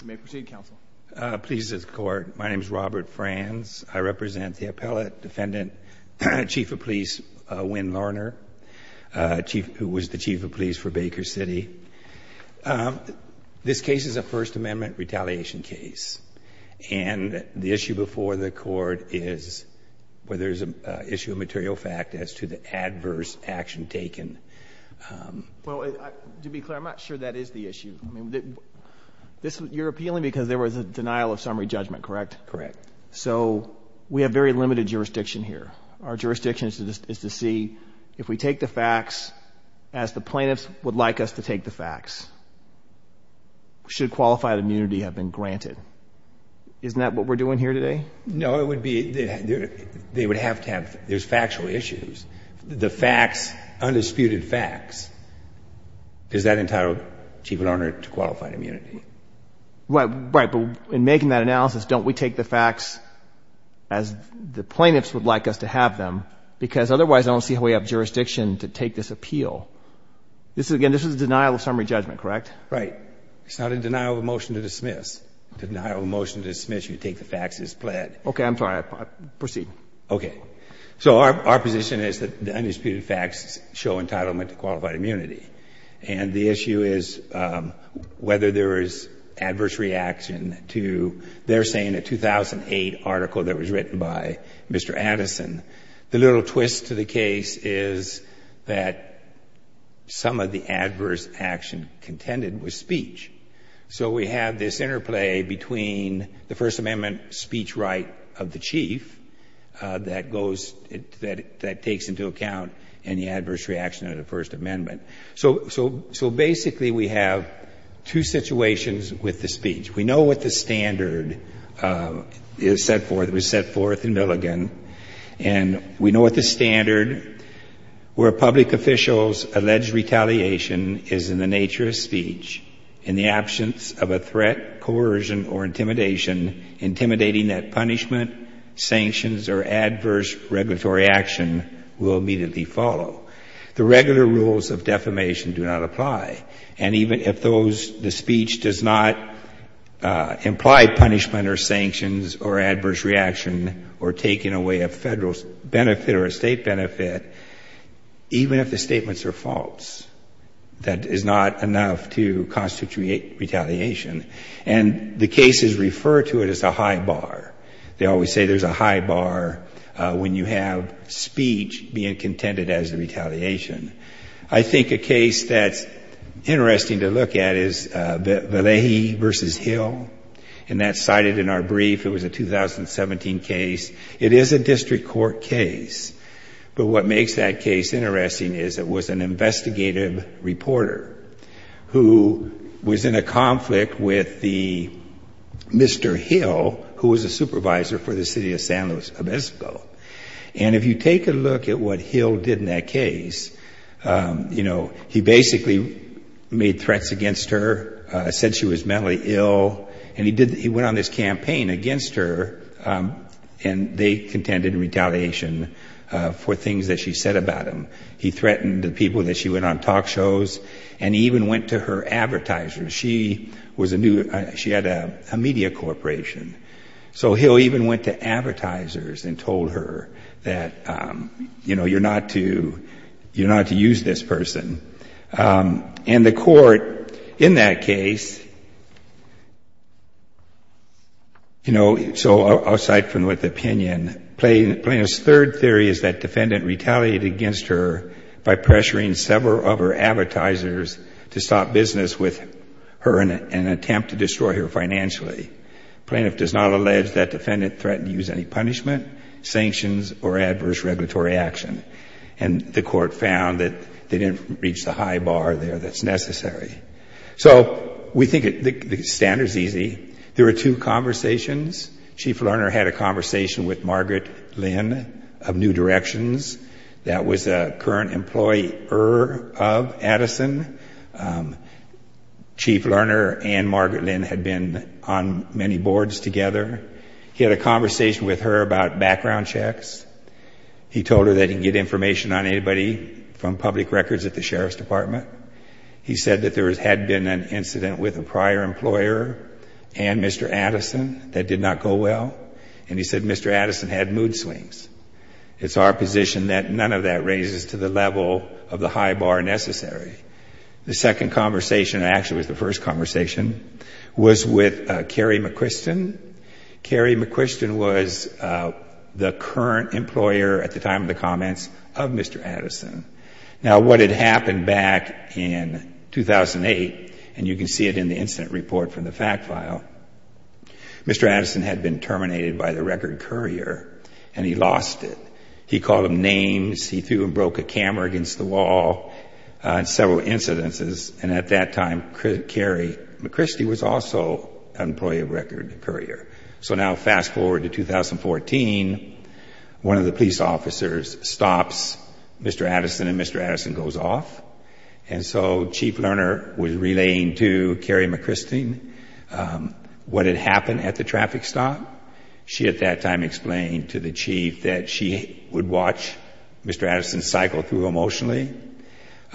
You may proceed, Counsel. Please, this is the Court. My name is Robert Franz. I represent the Appellate Defendant, Chief of Police Wynne Larner, who was the Chief of Police for Baker City. This case is a First Amendment retaliation case, and the issue before the Court is whether there is an issue of material fact as to the adverse action taken. Well, to be clear, I'm not sure that is the issue. You're appealing because there was a denial of summary judgment, correct? Correct. So we have very limited jurisdiction here. Our jurisdiction is to see if we take the facts as the plaintiffs would like us to take the facts. Should qualified immunity have been granted? Isn't that what we're doing here today? No, it would be, they would have to have, there's factual issues. The facts, undisputed facts, is that entitled, Chief Wynne Larner, to qualified immunity? Right, but in making that analysis, don't we take the facts as the plaintiffs would like us to have them? Because otherwise, I don't see how we have jurisdiction to take this appeal. This is, again, this is a denial of summary judgment, correct? Right. It's not a denial of motion to dismiss. Denial of motion to dismiss, you take the facts as pled. Okay. I'm sorry. Proceed. Okay. So our position is that the undisputed facts show entitlement to qualified immunity, and the issue is whether there is adverse reaction to, they're saying a 2008 article that was written by Mr. Addison. The little twist to the case is that some of the adverse action contended with speech. So we have this interplay between the First Amendment speech right of the Chief that goes, that takes into account any adverse reaction of the First Amendment. So basically, we have two situations with the speech. We know what the standard is set forth. It was set forth in Milligan. And we know what the standard where public officials' alleged retaliation is in the nature of speech in the absence of a threat, coercion, or intimidation, intimidating that punishment, sanctions, or adverse regulatory action will immediately follow. The regular rules of defamation do not apply. And even if those, the speech does not imply punishment or sanctions or adverse reaction or taking away a Federal benefit or a State benefit, even if the statements are false, that is not enough to constitute retaliation. And the cases refer to it as a high bar. They always say there's a high bar when you have speech being contended as the retaliation. I think a case that's interesting to look at is Valleje v. Hill. And that's cited in our brief. It was a 2017 case. It is a district court case. But what makes that case interesting is it was an investigative reporter who was in a conflict with Mr. Hill, who was a supervisor for the city of San Luis Obispo. And if you take a look at what Hill did in that case, you know, he basically made threats against her, said she was mentally ill. And he did, he went on this campaign against her. And they contended retaliation for things that she said about him. He threatened the people that she went on talk shows. And he even went to her advertisers. She was a new, she had a media corporation. So Hill even went to advertisers and told her that, you know, you're not to, you're not to use this person. And the court in that case, you know, so outside from what the opinion, Plaintiff's third theory is that defendant retaliated against her by pressuring several of her advertisers to stop business with her and attempt to destroy her financially. Plaintiff does not allege that defendant threatened to use any punishment, sanctions, or adverse regulatory action. And the court found that they didn't reach the high bar there that's necessary. So we think the standard's easy. There were two conversations. Chief Lerner had a conversation with Margaret Lynn of New Directions. That was a current employer of Addison. Chief Lerner and Margaret Lynn had been on many boards together. He had a conversation with her about background checks. He told her that he didn't get information on anybody from public records at the Sheriff's Department. He said that there had been an incident with a prior employer and Mr. Addison that did not go well. And he said Mr. Addison had mood swings. It's our position that none of that raises to the level of the high bar necessary. The second conversation, actually it was the first conversation, was with Kerry McQuiston. Kerry McQuiston was the current employer at the time of the comments of Mr. Addison. Now what had happened back in 2008, and you can see it in the incident report from the fact file, Mr. Addison had been terminated by the record courier and he lost it. He called him names. He threw and broke a camera against the wall in several incidences. And at that time Kerry McQuiston was also an employee of record courier. So now fast forward to 2014, one of the police officers stops Mr. Addison and Mr. Addison goes off. And so Chief Lerner was relaying to Kerry McQuiston what had happened at the traffic stop. She at that time explained to the chief that she would watch Mr. Addison cycle through emotionally.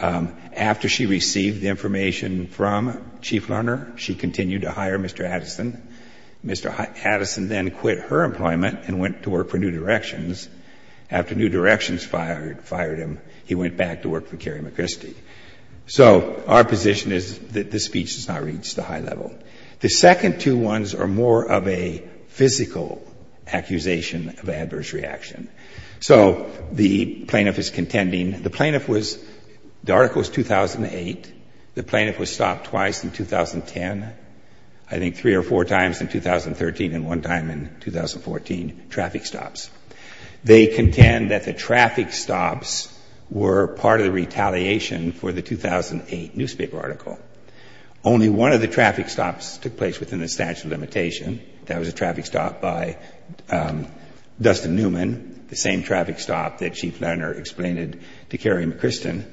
After she received the information from Chief Lerner, she continued to hire Mr. Addison. Mr. Addison then quit her employment and went to work for New Directions. After New Directions fired him, he went back to work for Kerry McQuiston. So our position is that this speech does not reach the high level. The second two ones are more of a physical accusation of adverse reaction. So the plaintiff is contending, the plaintiff was, the article is 2008. The plaintiff was stopped twice in 2010. I think three or four times in 2013 and one time in 2014, traffic stops. They contend that the traffic stops were part of the retaliation for the 2008 newspaper article. Only one of the traffic stops took place within the statute of limitation. That was a traffic stop by Dustin Newman, the same traffic stop that Chief Lerner explained to Kerry McQuiston.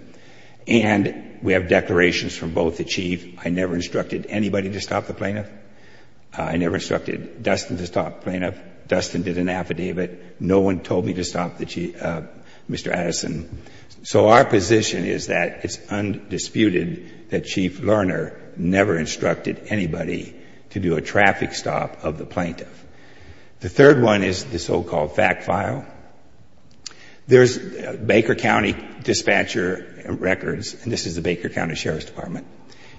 And we have declarations from both the chief. I never instructed anybody to stop the plaintiff. I never instructed Dustin to stop the plaintiff. Dustin did an affidavit. No one told me to stop Mr. Addison. So our position is that it's undisputed that Chief Lerner never instructed anybody to do a traffic stop of the plaintiff. The third one is the so-called fact file. There's Baker County dispatcher records, and this is the Baker County Sheriff's Department,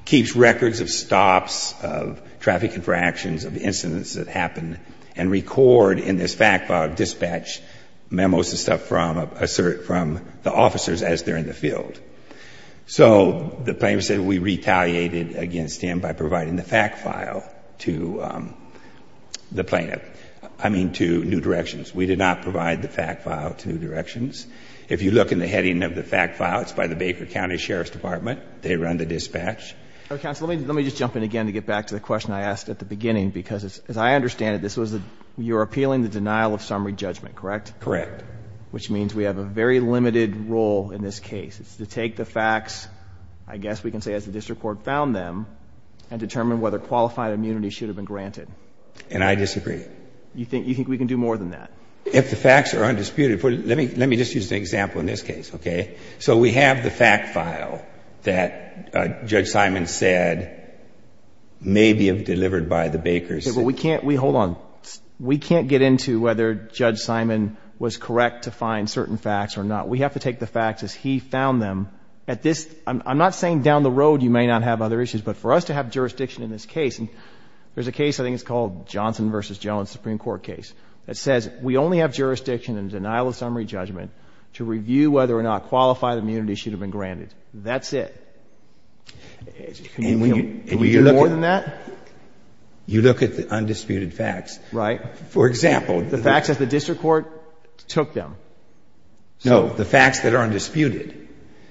keeps records of stops, of traffic infractions, of incidents that happen, and record in this fact file dispatch memos and stuff from the officers as they're in the field. So the plaintiff said we retaliated against him by providing the fact file to the plaintiff, I mean to New Directions. We did not provide the fact file to New Directions. If you look in the heading of the fact file, it's by the Baker County Sheriff's Department. They run the dispatch. Now, counsel, let me just jump in again to get back to the question I asked at the beginning because as I understand it, this was, you're appealing the denial of summary judgment, correct? Correct. Which means we have a very limited role in this case. It's to take the facts, I guess we can say as the district court found them, and determine whether qualified immunity should have been granted. And I disagree. You think we can do more than that? If the facts are undisputed, let me just use an example in this case, okay? So we have the fact file that Judge Simon said may be delivered by the Bakers. We can't get into whether Judge Simon was correct to find certain facts or not. We have to take the facts as he found them. I'm not saying down the road you may not have other issues, but for us to have jurisdiction in this case, and there's a case I think it's called Johnson v. Jones Supreme Court case, that says we only have jurisdiction in denial of summary judgment to review whether or not qualified immunity should have been granted. That's it. Can we do more than that? You look at the undisputed facts. Right. For example. The facts that the district court took them. No, the facts that are undisputed.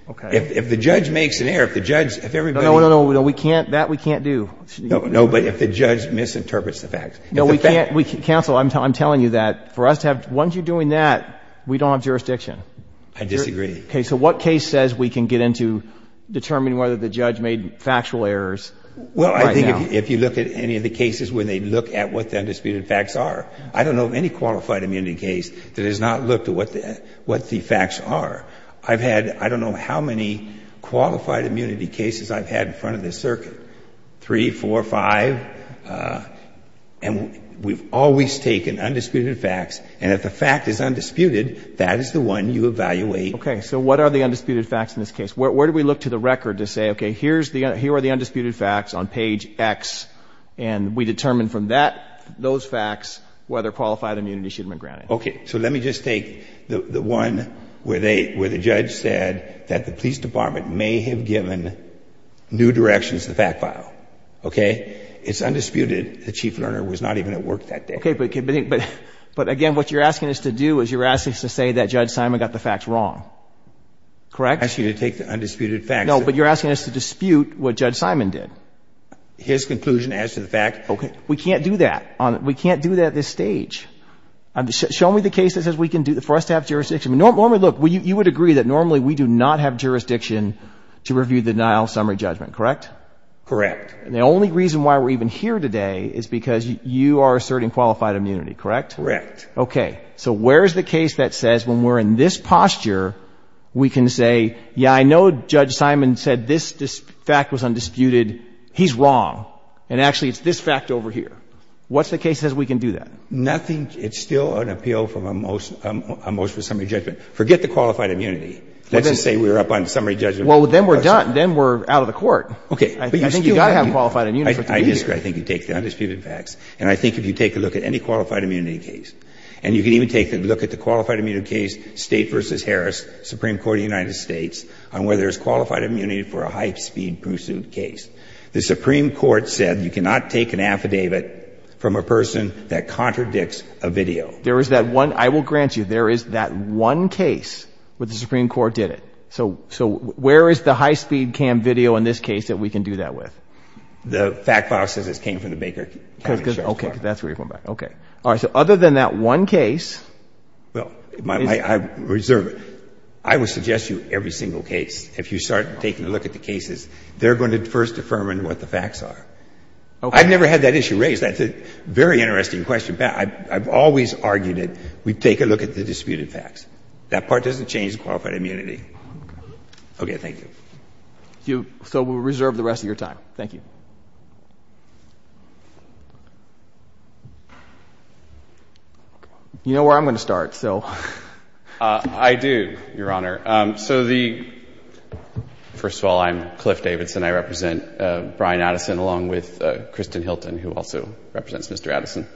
Okay. If the judge makes an error, if the judge, if everybody. No, no, no, no, we can't, that we can't do. No, but if the judge misinterprets the facts. No, we can't, counsel, I'm telling you that for us to have, once you're doing that, we don't have jurisdiction. I disagree. Okay, so what case says we can get into determining whether the judge made factual errors? Well, I think if you look at any of the cases where they look at what the undisputed facts are. I don't know of any qualified immunity case that has not looked at what the facts are. I've had, I don't know how many qualified immunity cases I've had in front of this circuit. Three, four, five, and we've always taken undisputed facts, and if the fact is undisputed, that is the one you evaluate. Okay, so what are the undisputed facts in this case? Where do we look to the record to say, okay, here are the undisputed facts on page X, and we determine from that, those facts, whether qualified immunity should have been granted? Okay, so let me just take the one where the judge said that the police department may have given new directions to the fact file, okay? It's undisputed that Chief Lerner was not even at work that day. Okay, but again, what you're asking us to do is you're asking us to say that Judge Simon got the facts wrong, correct? I'm asking you to take the undisputed facts. No, but you're asking us to dispute what Judge Simon did. His conclusion as to the fact, okay. We can't do that. We can't do that at this stage. Show me the case that says we can do, for us to have jurisdiction. Normally, look, you would agree that normally we do not have jurisdiction to review the denial of summary judgment, correct? Correct. And the only reason why we're even here today is because you are asserting qualified immunity, correct? Correct. Okay. So where is the case that says when we're in this posture, we can say, yeah, I know Judge Simon said this fact was undisputed. He's wrong. And actually, it's this fact over here. What's the case that says we can do that? Nothing. It's still an appeal from a motion of summary judgment. Forget the qualified immunity. Let's just say we were up on summary judgment. Well, then we're done. Then we're out of the court. Okay. I think you've got to have qualified immunity for it to be here. I disagree. I think you take the undisputed facts. And I think if you take a look at any qualified immunity case, and you can even take a look at the qualified immunity case, State v. Harris, Supreme Court of the United States, on whether there's qualified immunity for a high-speed pursuit case, the Supreme Court said you cannot take an affidavit from a person that contradicts a video. There is that one. I will grant you there is that one case where the Supreme Court did it. So where is the high-speed cam video in this case that we can do that with? The fact file says it came from the Baker County Sheriff's Department. Okay. That's where you're going back. Okay. All right. So other than that one case. Well, I reserve it. I would suggest you every single case, if you start taking a look at the cases, they're going to first affirm what the facts are. Okay. I've never had that issue raised. That's a very interesting question. I've always argued it. We take a look at the disputed facts. That part doesn't change the qualified immunity. Okay. Thank you. So we'll reserve the rest of your time. Thank you. You know where I'm going to start, so. I do, Your Honor. So the, first of all, I'm Cliff Davidson. I represent Brian Addison along with Kristen Hilton, who also represents Mr. Addison.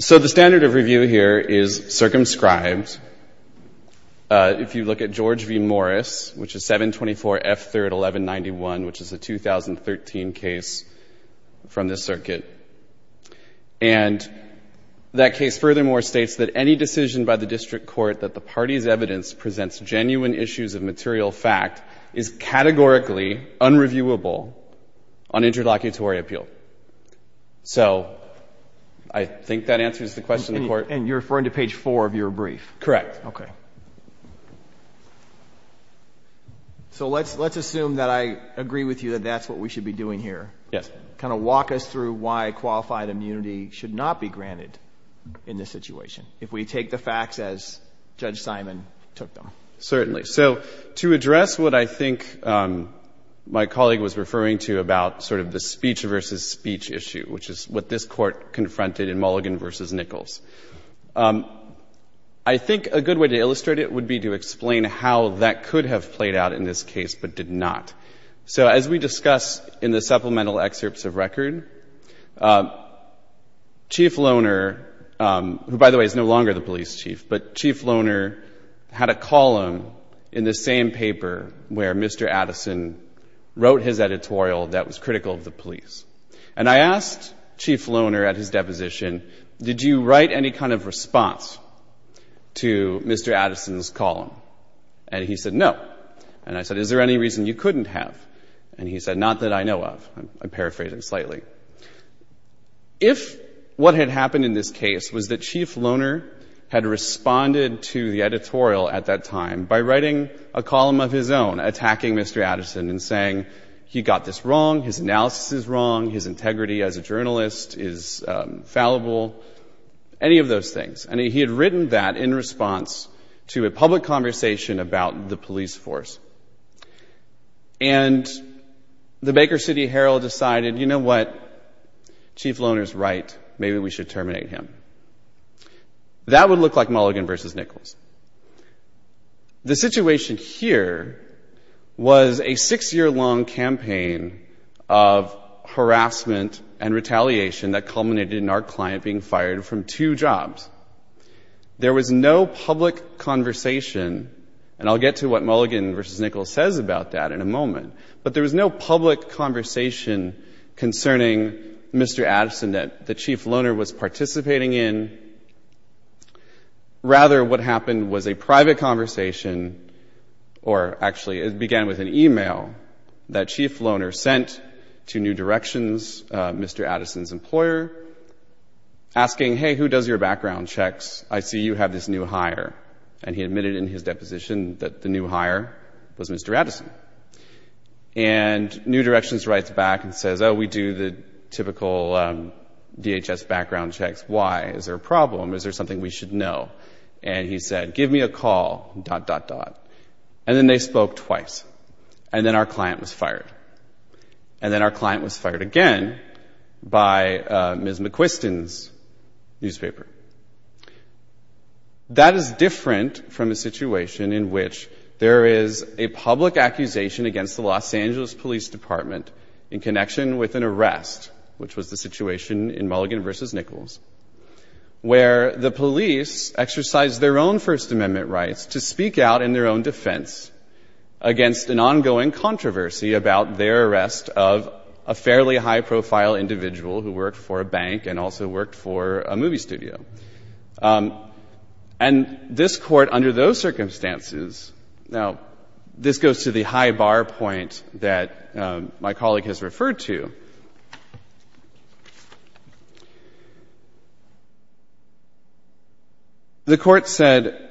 So the standard of review here is circumscribed. If you look at George v. Morris, which is 724 F 3rd 1191, which is a 2013 case from this circuit. And that case furthermore states that any decision by the district court that the party's evidence presents genuine issues of material fact is categorically unreviewable on interlocutory appeal. So I think that answers the question. And you're referring to page four of your brief. Correct. Okay. So let's, let's assume that I agree with you that that's what we should be doing here. Yes. Kind of walk us through why qualified immunity should not be granted in this situation. If we take the facts as Judge Simon took them. Certainly. So to address what I think my colleague was referring to about sort of the speech versus speech issue, which is what this court confronted in Mulligan versus Nichols. I think a good way to illustrate it would be to explain how that could have played out in this case, but did not. So as we discuss in the supplemental excerpts of record, Chief Loner, who by the way, is no longer the police chief, but Chief Loner had a column in the same paper where Mr. Addison wrote his editorial that was critical of the police. And I asked Chief Loner at his deposition, did you write any kind of response to Mr. Addison's column? And he said, no. And I said, is there any reason you couldn't have? And he said, not that I know of, I'm paraphrasing slightly. If what had happened in this case was that Chief Loner had responded to the editorial at that time by writing a column of his own attacking Mr. Addison and saying, he got this wrong. His analysis is wrong. His integrity as a journalist is fallible. Any of those things. And he had written that in response to a public conversation about the police force. And the Baker City Herald decided, you know what? Chief Loner's right. Maybe we should terminate him. That would look like Mulligan versus Nichols. The situation here was a six-year-long campaign of harassment and retaliation that culminated in our client being fired from two jobs. There was no public conversation, and I'll get to what Mulligan versus Nichols says about that in a moment. But there was no public conversation concerning Mr. Addison that the Chief Loner was participating in. Rather, what happened was a private conversation, or actually it began with an email that Chief Loner sent to New Directions, Mr. Addison's employer, asking, hey, who does your background checks? I see you have this new hire. And he admitted in his deposition that the new hire was Mr. Addison. And New Directions writes back and says, oh, we do the typical DHS background checks. Why? Is there a problem? Is there something we should know? And he said, give me a call, dot, dot, dot. And then they spoke twice, and then our client was fired. And then our client was fired again by Ms. McQuiston's newspaper. That is different from a situation in which there is a public accusation against the Los Angeles Police Department in connection with an arrest, which was the where the police exercised their own First Amendment rights to speak out in their own defense against an ongoing controversy about their arrest of a fairly high-profile individual who worked for a bank and also worked for a movie studio. And this Court, under those circumstances, now, this goes to the high bar point that my colleague has referred to. The Court said,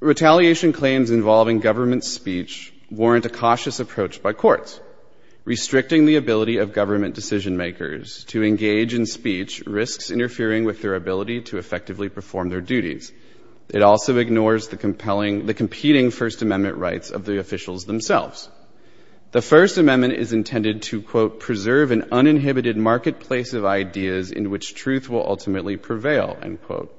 retaliation claims involving government speech warrant a cautious approach by courts. Restricting the ability of government decision-makers to engage in speech risks interfering with their ability to effectively perform their duties. It also ignores the compelling, the competing First Amendment rights of the officials themselves. The First Amendment is intended to, quote, preserve an uninhibited marketplace of ultimately prevail, end quote.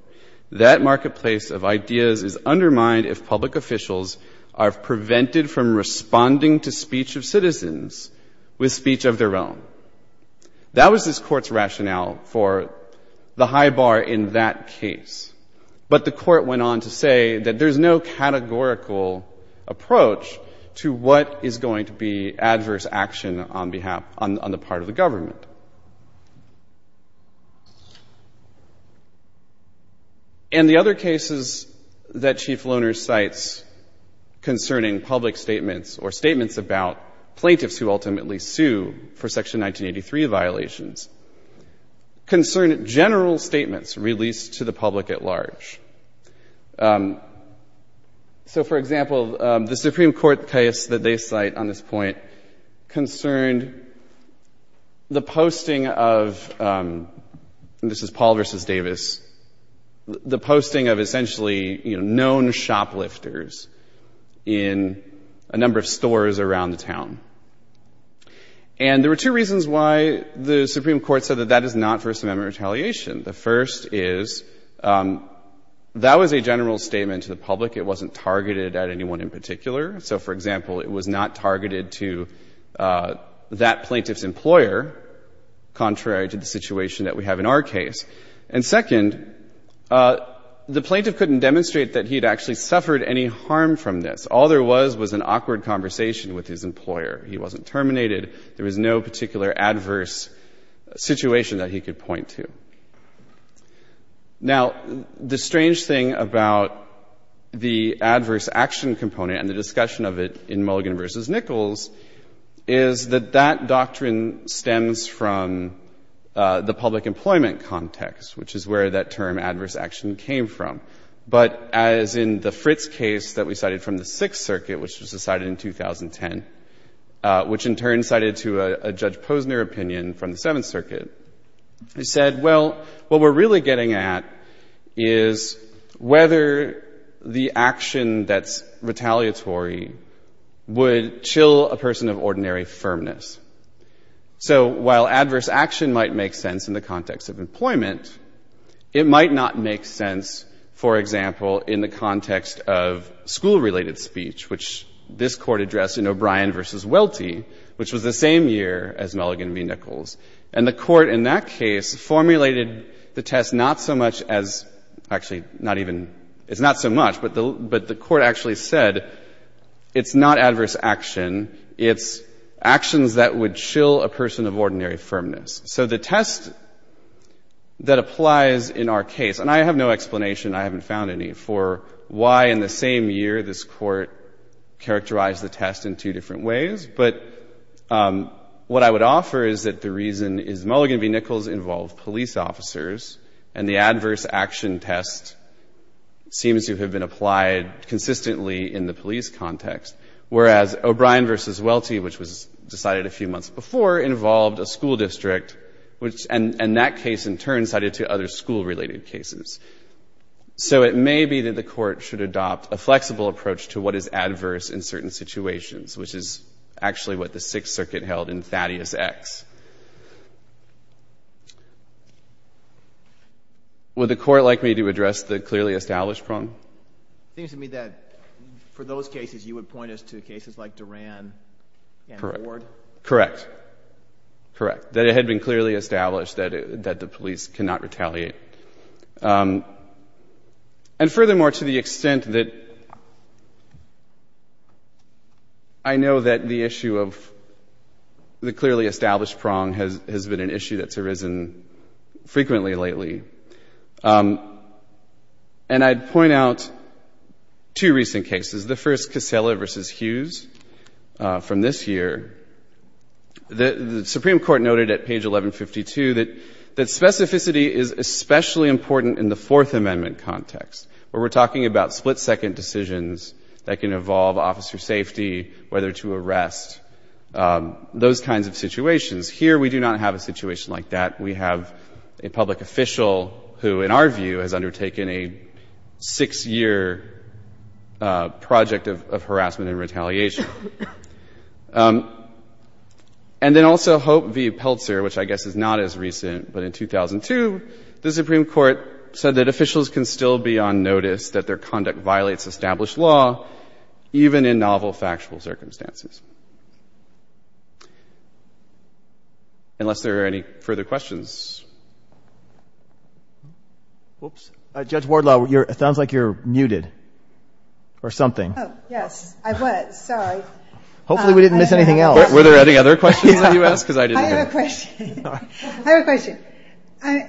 That marketplace of ideas is undermined if public officials are prevented from responding to speech of citizens with speech of their own. That was this Court's rationale for the high bar in that case. But the Court went on to say that there's no categorical approach to what is going to be adverse action on behalf, on the part of the government. And the other cases that Chief Loehner cites concerning public statements or statements about plaintiffs who ultimately sue for Section 1983 violations concern general statements released to the public at large. So for example, the Supreme Court case that they cite on this point concerned the Posting of essentially, you know, known shoplifters in a number of stores around the town. And there were two reasons why the Supreme Court said that that is not First Amendment retaliation. The first is that was a general statement to the public. It wasn't targeted at anyone in particular. So for example, it was not targeted to that plaintiff's employer, contrary to the situation that we have in our case. And second, the plaintiff couldn't demonstrate that he'd actually suffered any harm from this. All there was was an awkward conversation with his employer. He wasn't terminated. There was no particular adverse situation that he could point to. Now, the strange thing about the adverse action component and the discussion of it in the public employment context, which is where that term adverse action came from. But as in the Fritz case that we cited from the Sixth Circuit, which was decided in 2010, which in turn cited to a Judge Posner opinion from the Seventh Circuit, he said, well, what we're really getting at is whether the action that's retaliatory would chill a person of ordinary firmness. So while adverse action might make sense in the context of employment, it might not make sense, for example, in the context of school-related speech, which this Court addressed in O'Brien v. Welty, which was the same year as Mulligan v. Nichols. And the Court in that case formulated the test not so much as actually not even it's not so much, but the but the Court actually said it's not adverse action. It's actions that would chill a person of ordinary firmness. So the test that applies in our case, and I have no explanation, I haven't found any, for why in the same year this Court characterized the test in two different ways. But what I would offer is that the reason is Mulligan v. Nichols involved police officers and the adverse action test seems to have been Mulligan v. Welty, which was decided a few months before, involved a school district, which and that case in turn cited to other school-related cases. So it may be that the Court should adopt a flexible approach to what is adverse in certain situations, which is actually what the Sixth Circuit held in Thaddeus X. Would the Court like me to address the clearly established problem? It seems to me that for those cases, you would point us to cases like Duran and Ward. Correct. Correct. That it had been clearly established that the police cannot retaliate. And furthermore, to the extent that I know that the issue of the clearly established prong has been an issue that's arisen frequently lately. And I'd point out two recent cases. The first, Casella v. Hughes, from this year, the Supreme Court noted at page 1152 that specificity is especially important in the Fourth Amendment context, where we're talking about split-second decisions that can involve officer safety, whether to arrest, those kinds of situations. Here, we do not have a situation like that. We have a public official who, in our view, has undertaken a six-year project of harassment and retaliation. And then also, Hope v. Peltzer, which I guess is not as recent, but in 2002, the Supreme Court said that officials can still be on notice that their conduct violates established law, even in novel factual circumstances. Unless there are any further questions. Oops. Judge Wardlaw, it sounds like you're muted or something. Oh, yes, I was. Sorry. Hopefully, we didn't miss anything else. Were there any other questions that you asked? Because I didn't hear. I have a question. I have a question.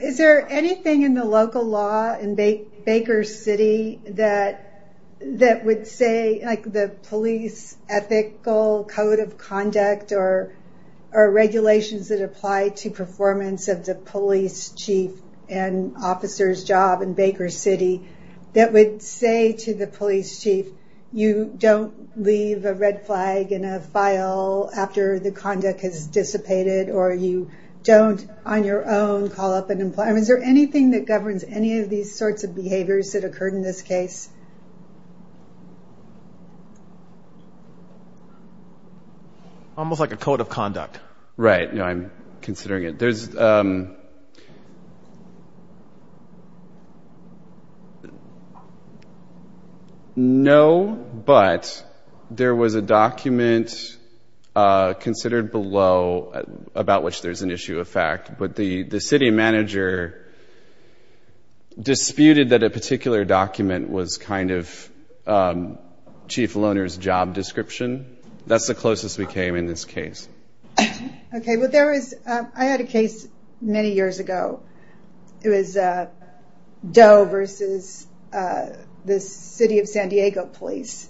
Is there anything in the local law in Baker City that would say, like, the police ethical code of conduct or regulations that apply to performance of the police chief and officer's job in Baker City, that would say to the police chief, you don't leave a red flag in a file after the conduct has dissipated, or you don't, on your own, call up an employer? Is there anything that governs any of these sorts of behaviors that occurred in this case? Almost like a code of conduct. Right. I'm considering it. There's no, but there was a document considered below about which there's an issue of fact, but the city manager disputed that a particular document was kind of chief loaner's job description. That's the closest we came in this case. Okay. Well, there was, I had a case many years ago. It was Doe versus the city of San Diego police,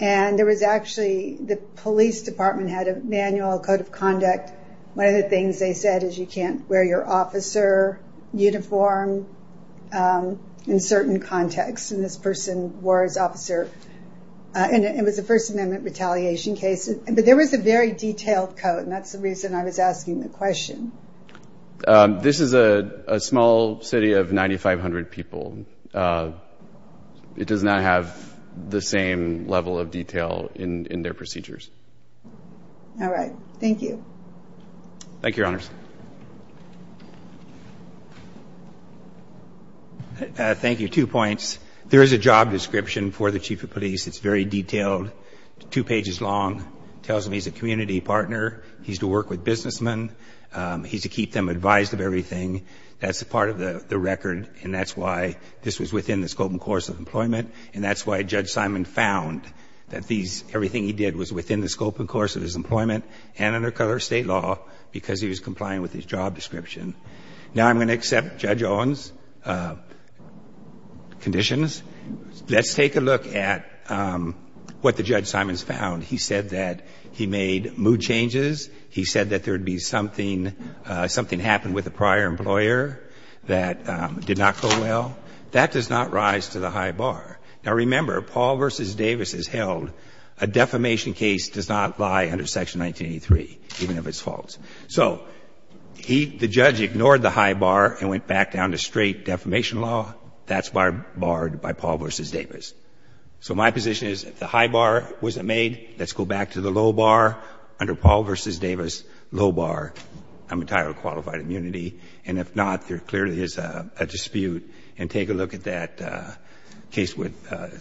and there was actually, the police department had a manual code of conduct. One of the things they said is you can't wear your officer uniform in certain contexts, and this person wore his officer, and it was a First Amendment retaliation case. But there was a very detailed code, and that's the reason I was asking the question. This is a small city of 9,500 people. It does not have the same level of detail in their procedures. Thank you. Thank you, Your Honors. Thank you. Two points. There is a job description for the chief of police. It's very detailed, two pages long. It tells him he's a community partner. He's to work with businessmen. He's to keep them advised of everything. That's a part of the record, and that's why this was within the scope and course of employment, and that's why Judge Simon found that these, everything he did was within the scope and course of his employment and under federal or state law because he was complying with his job description. Now I'm going to accept Judge Owen's conditions. Let's take a look at what the Judge Simons found. He said that he made mood changes. He said that there would be something happened with a prior employer that did not go well. That does not rise to the high bar. Now, remember, Paul v. Davis has held a defamation case does not lie under Section 1983, even if it's false. So he, the judge, ignored the high bar and went back down to straight defamation law. That's why barred by Paul v. Davis. So my position is if the high bar wasn't made, let's go back to the low bar. Under Paul v. Davis, low bar. I'm entirely qualified immunity. And if not, there clearly is a dispute. And take a look at that case with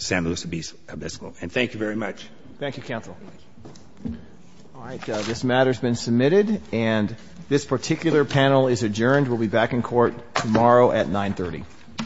San Luis Obispo. And thank you very much. Thank you, counsel. All right. This matter's been submitted, and this particular panel is adjourned. We'll be back in court tomorrow at 930.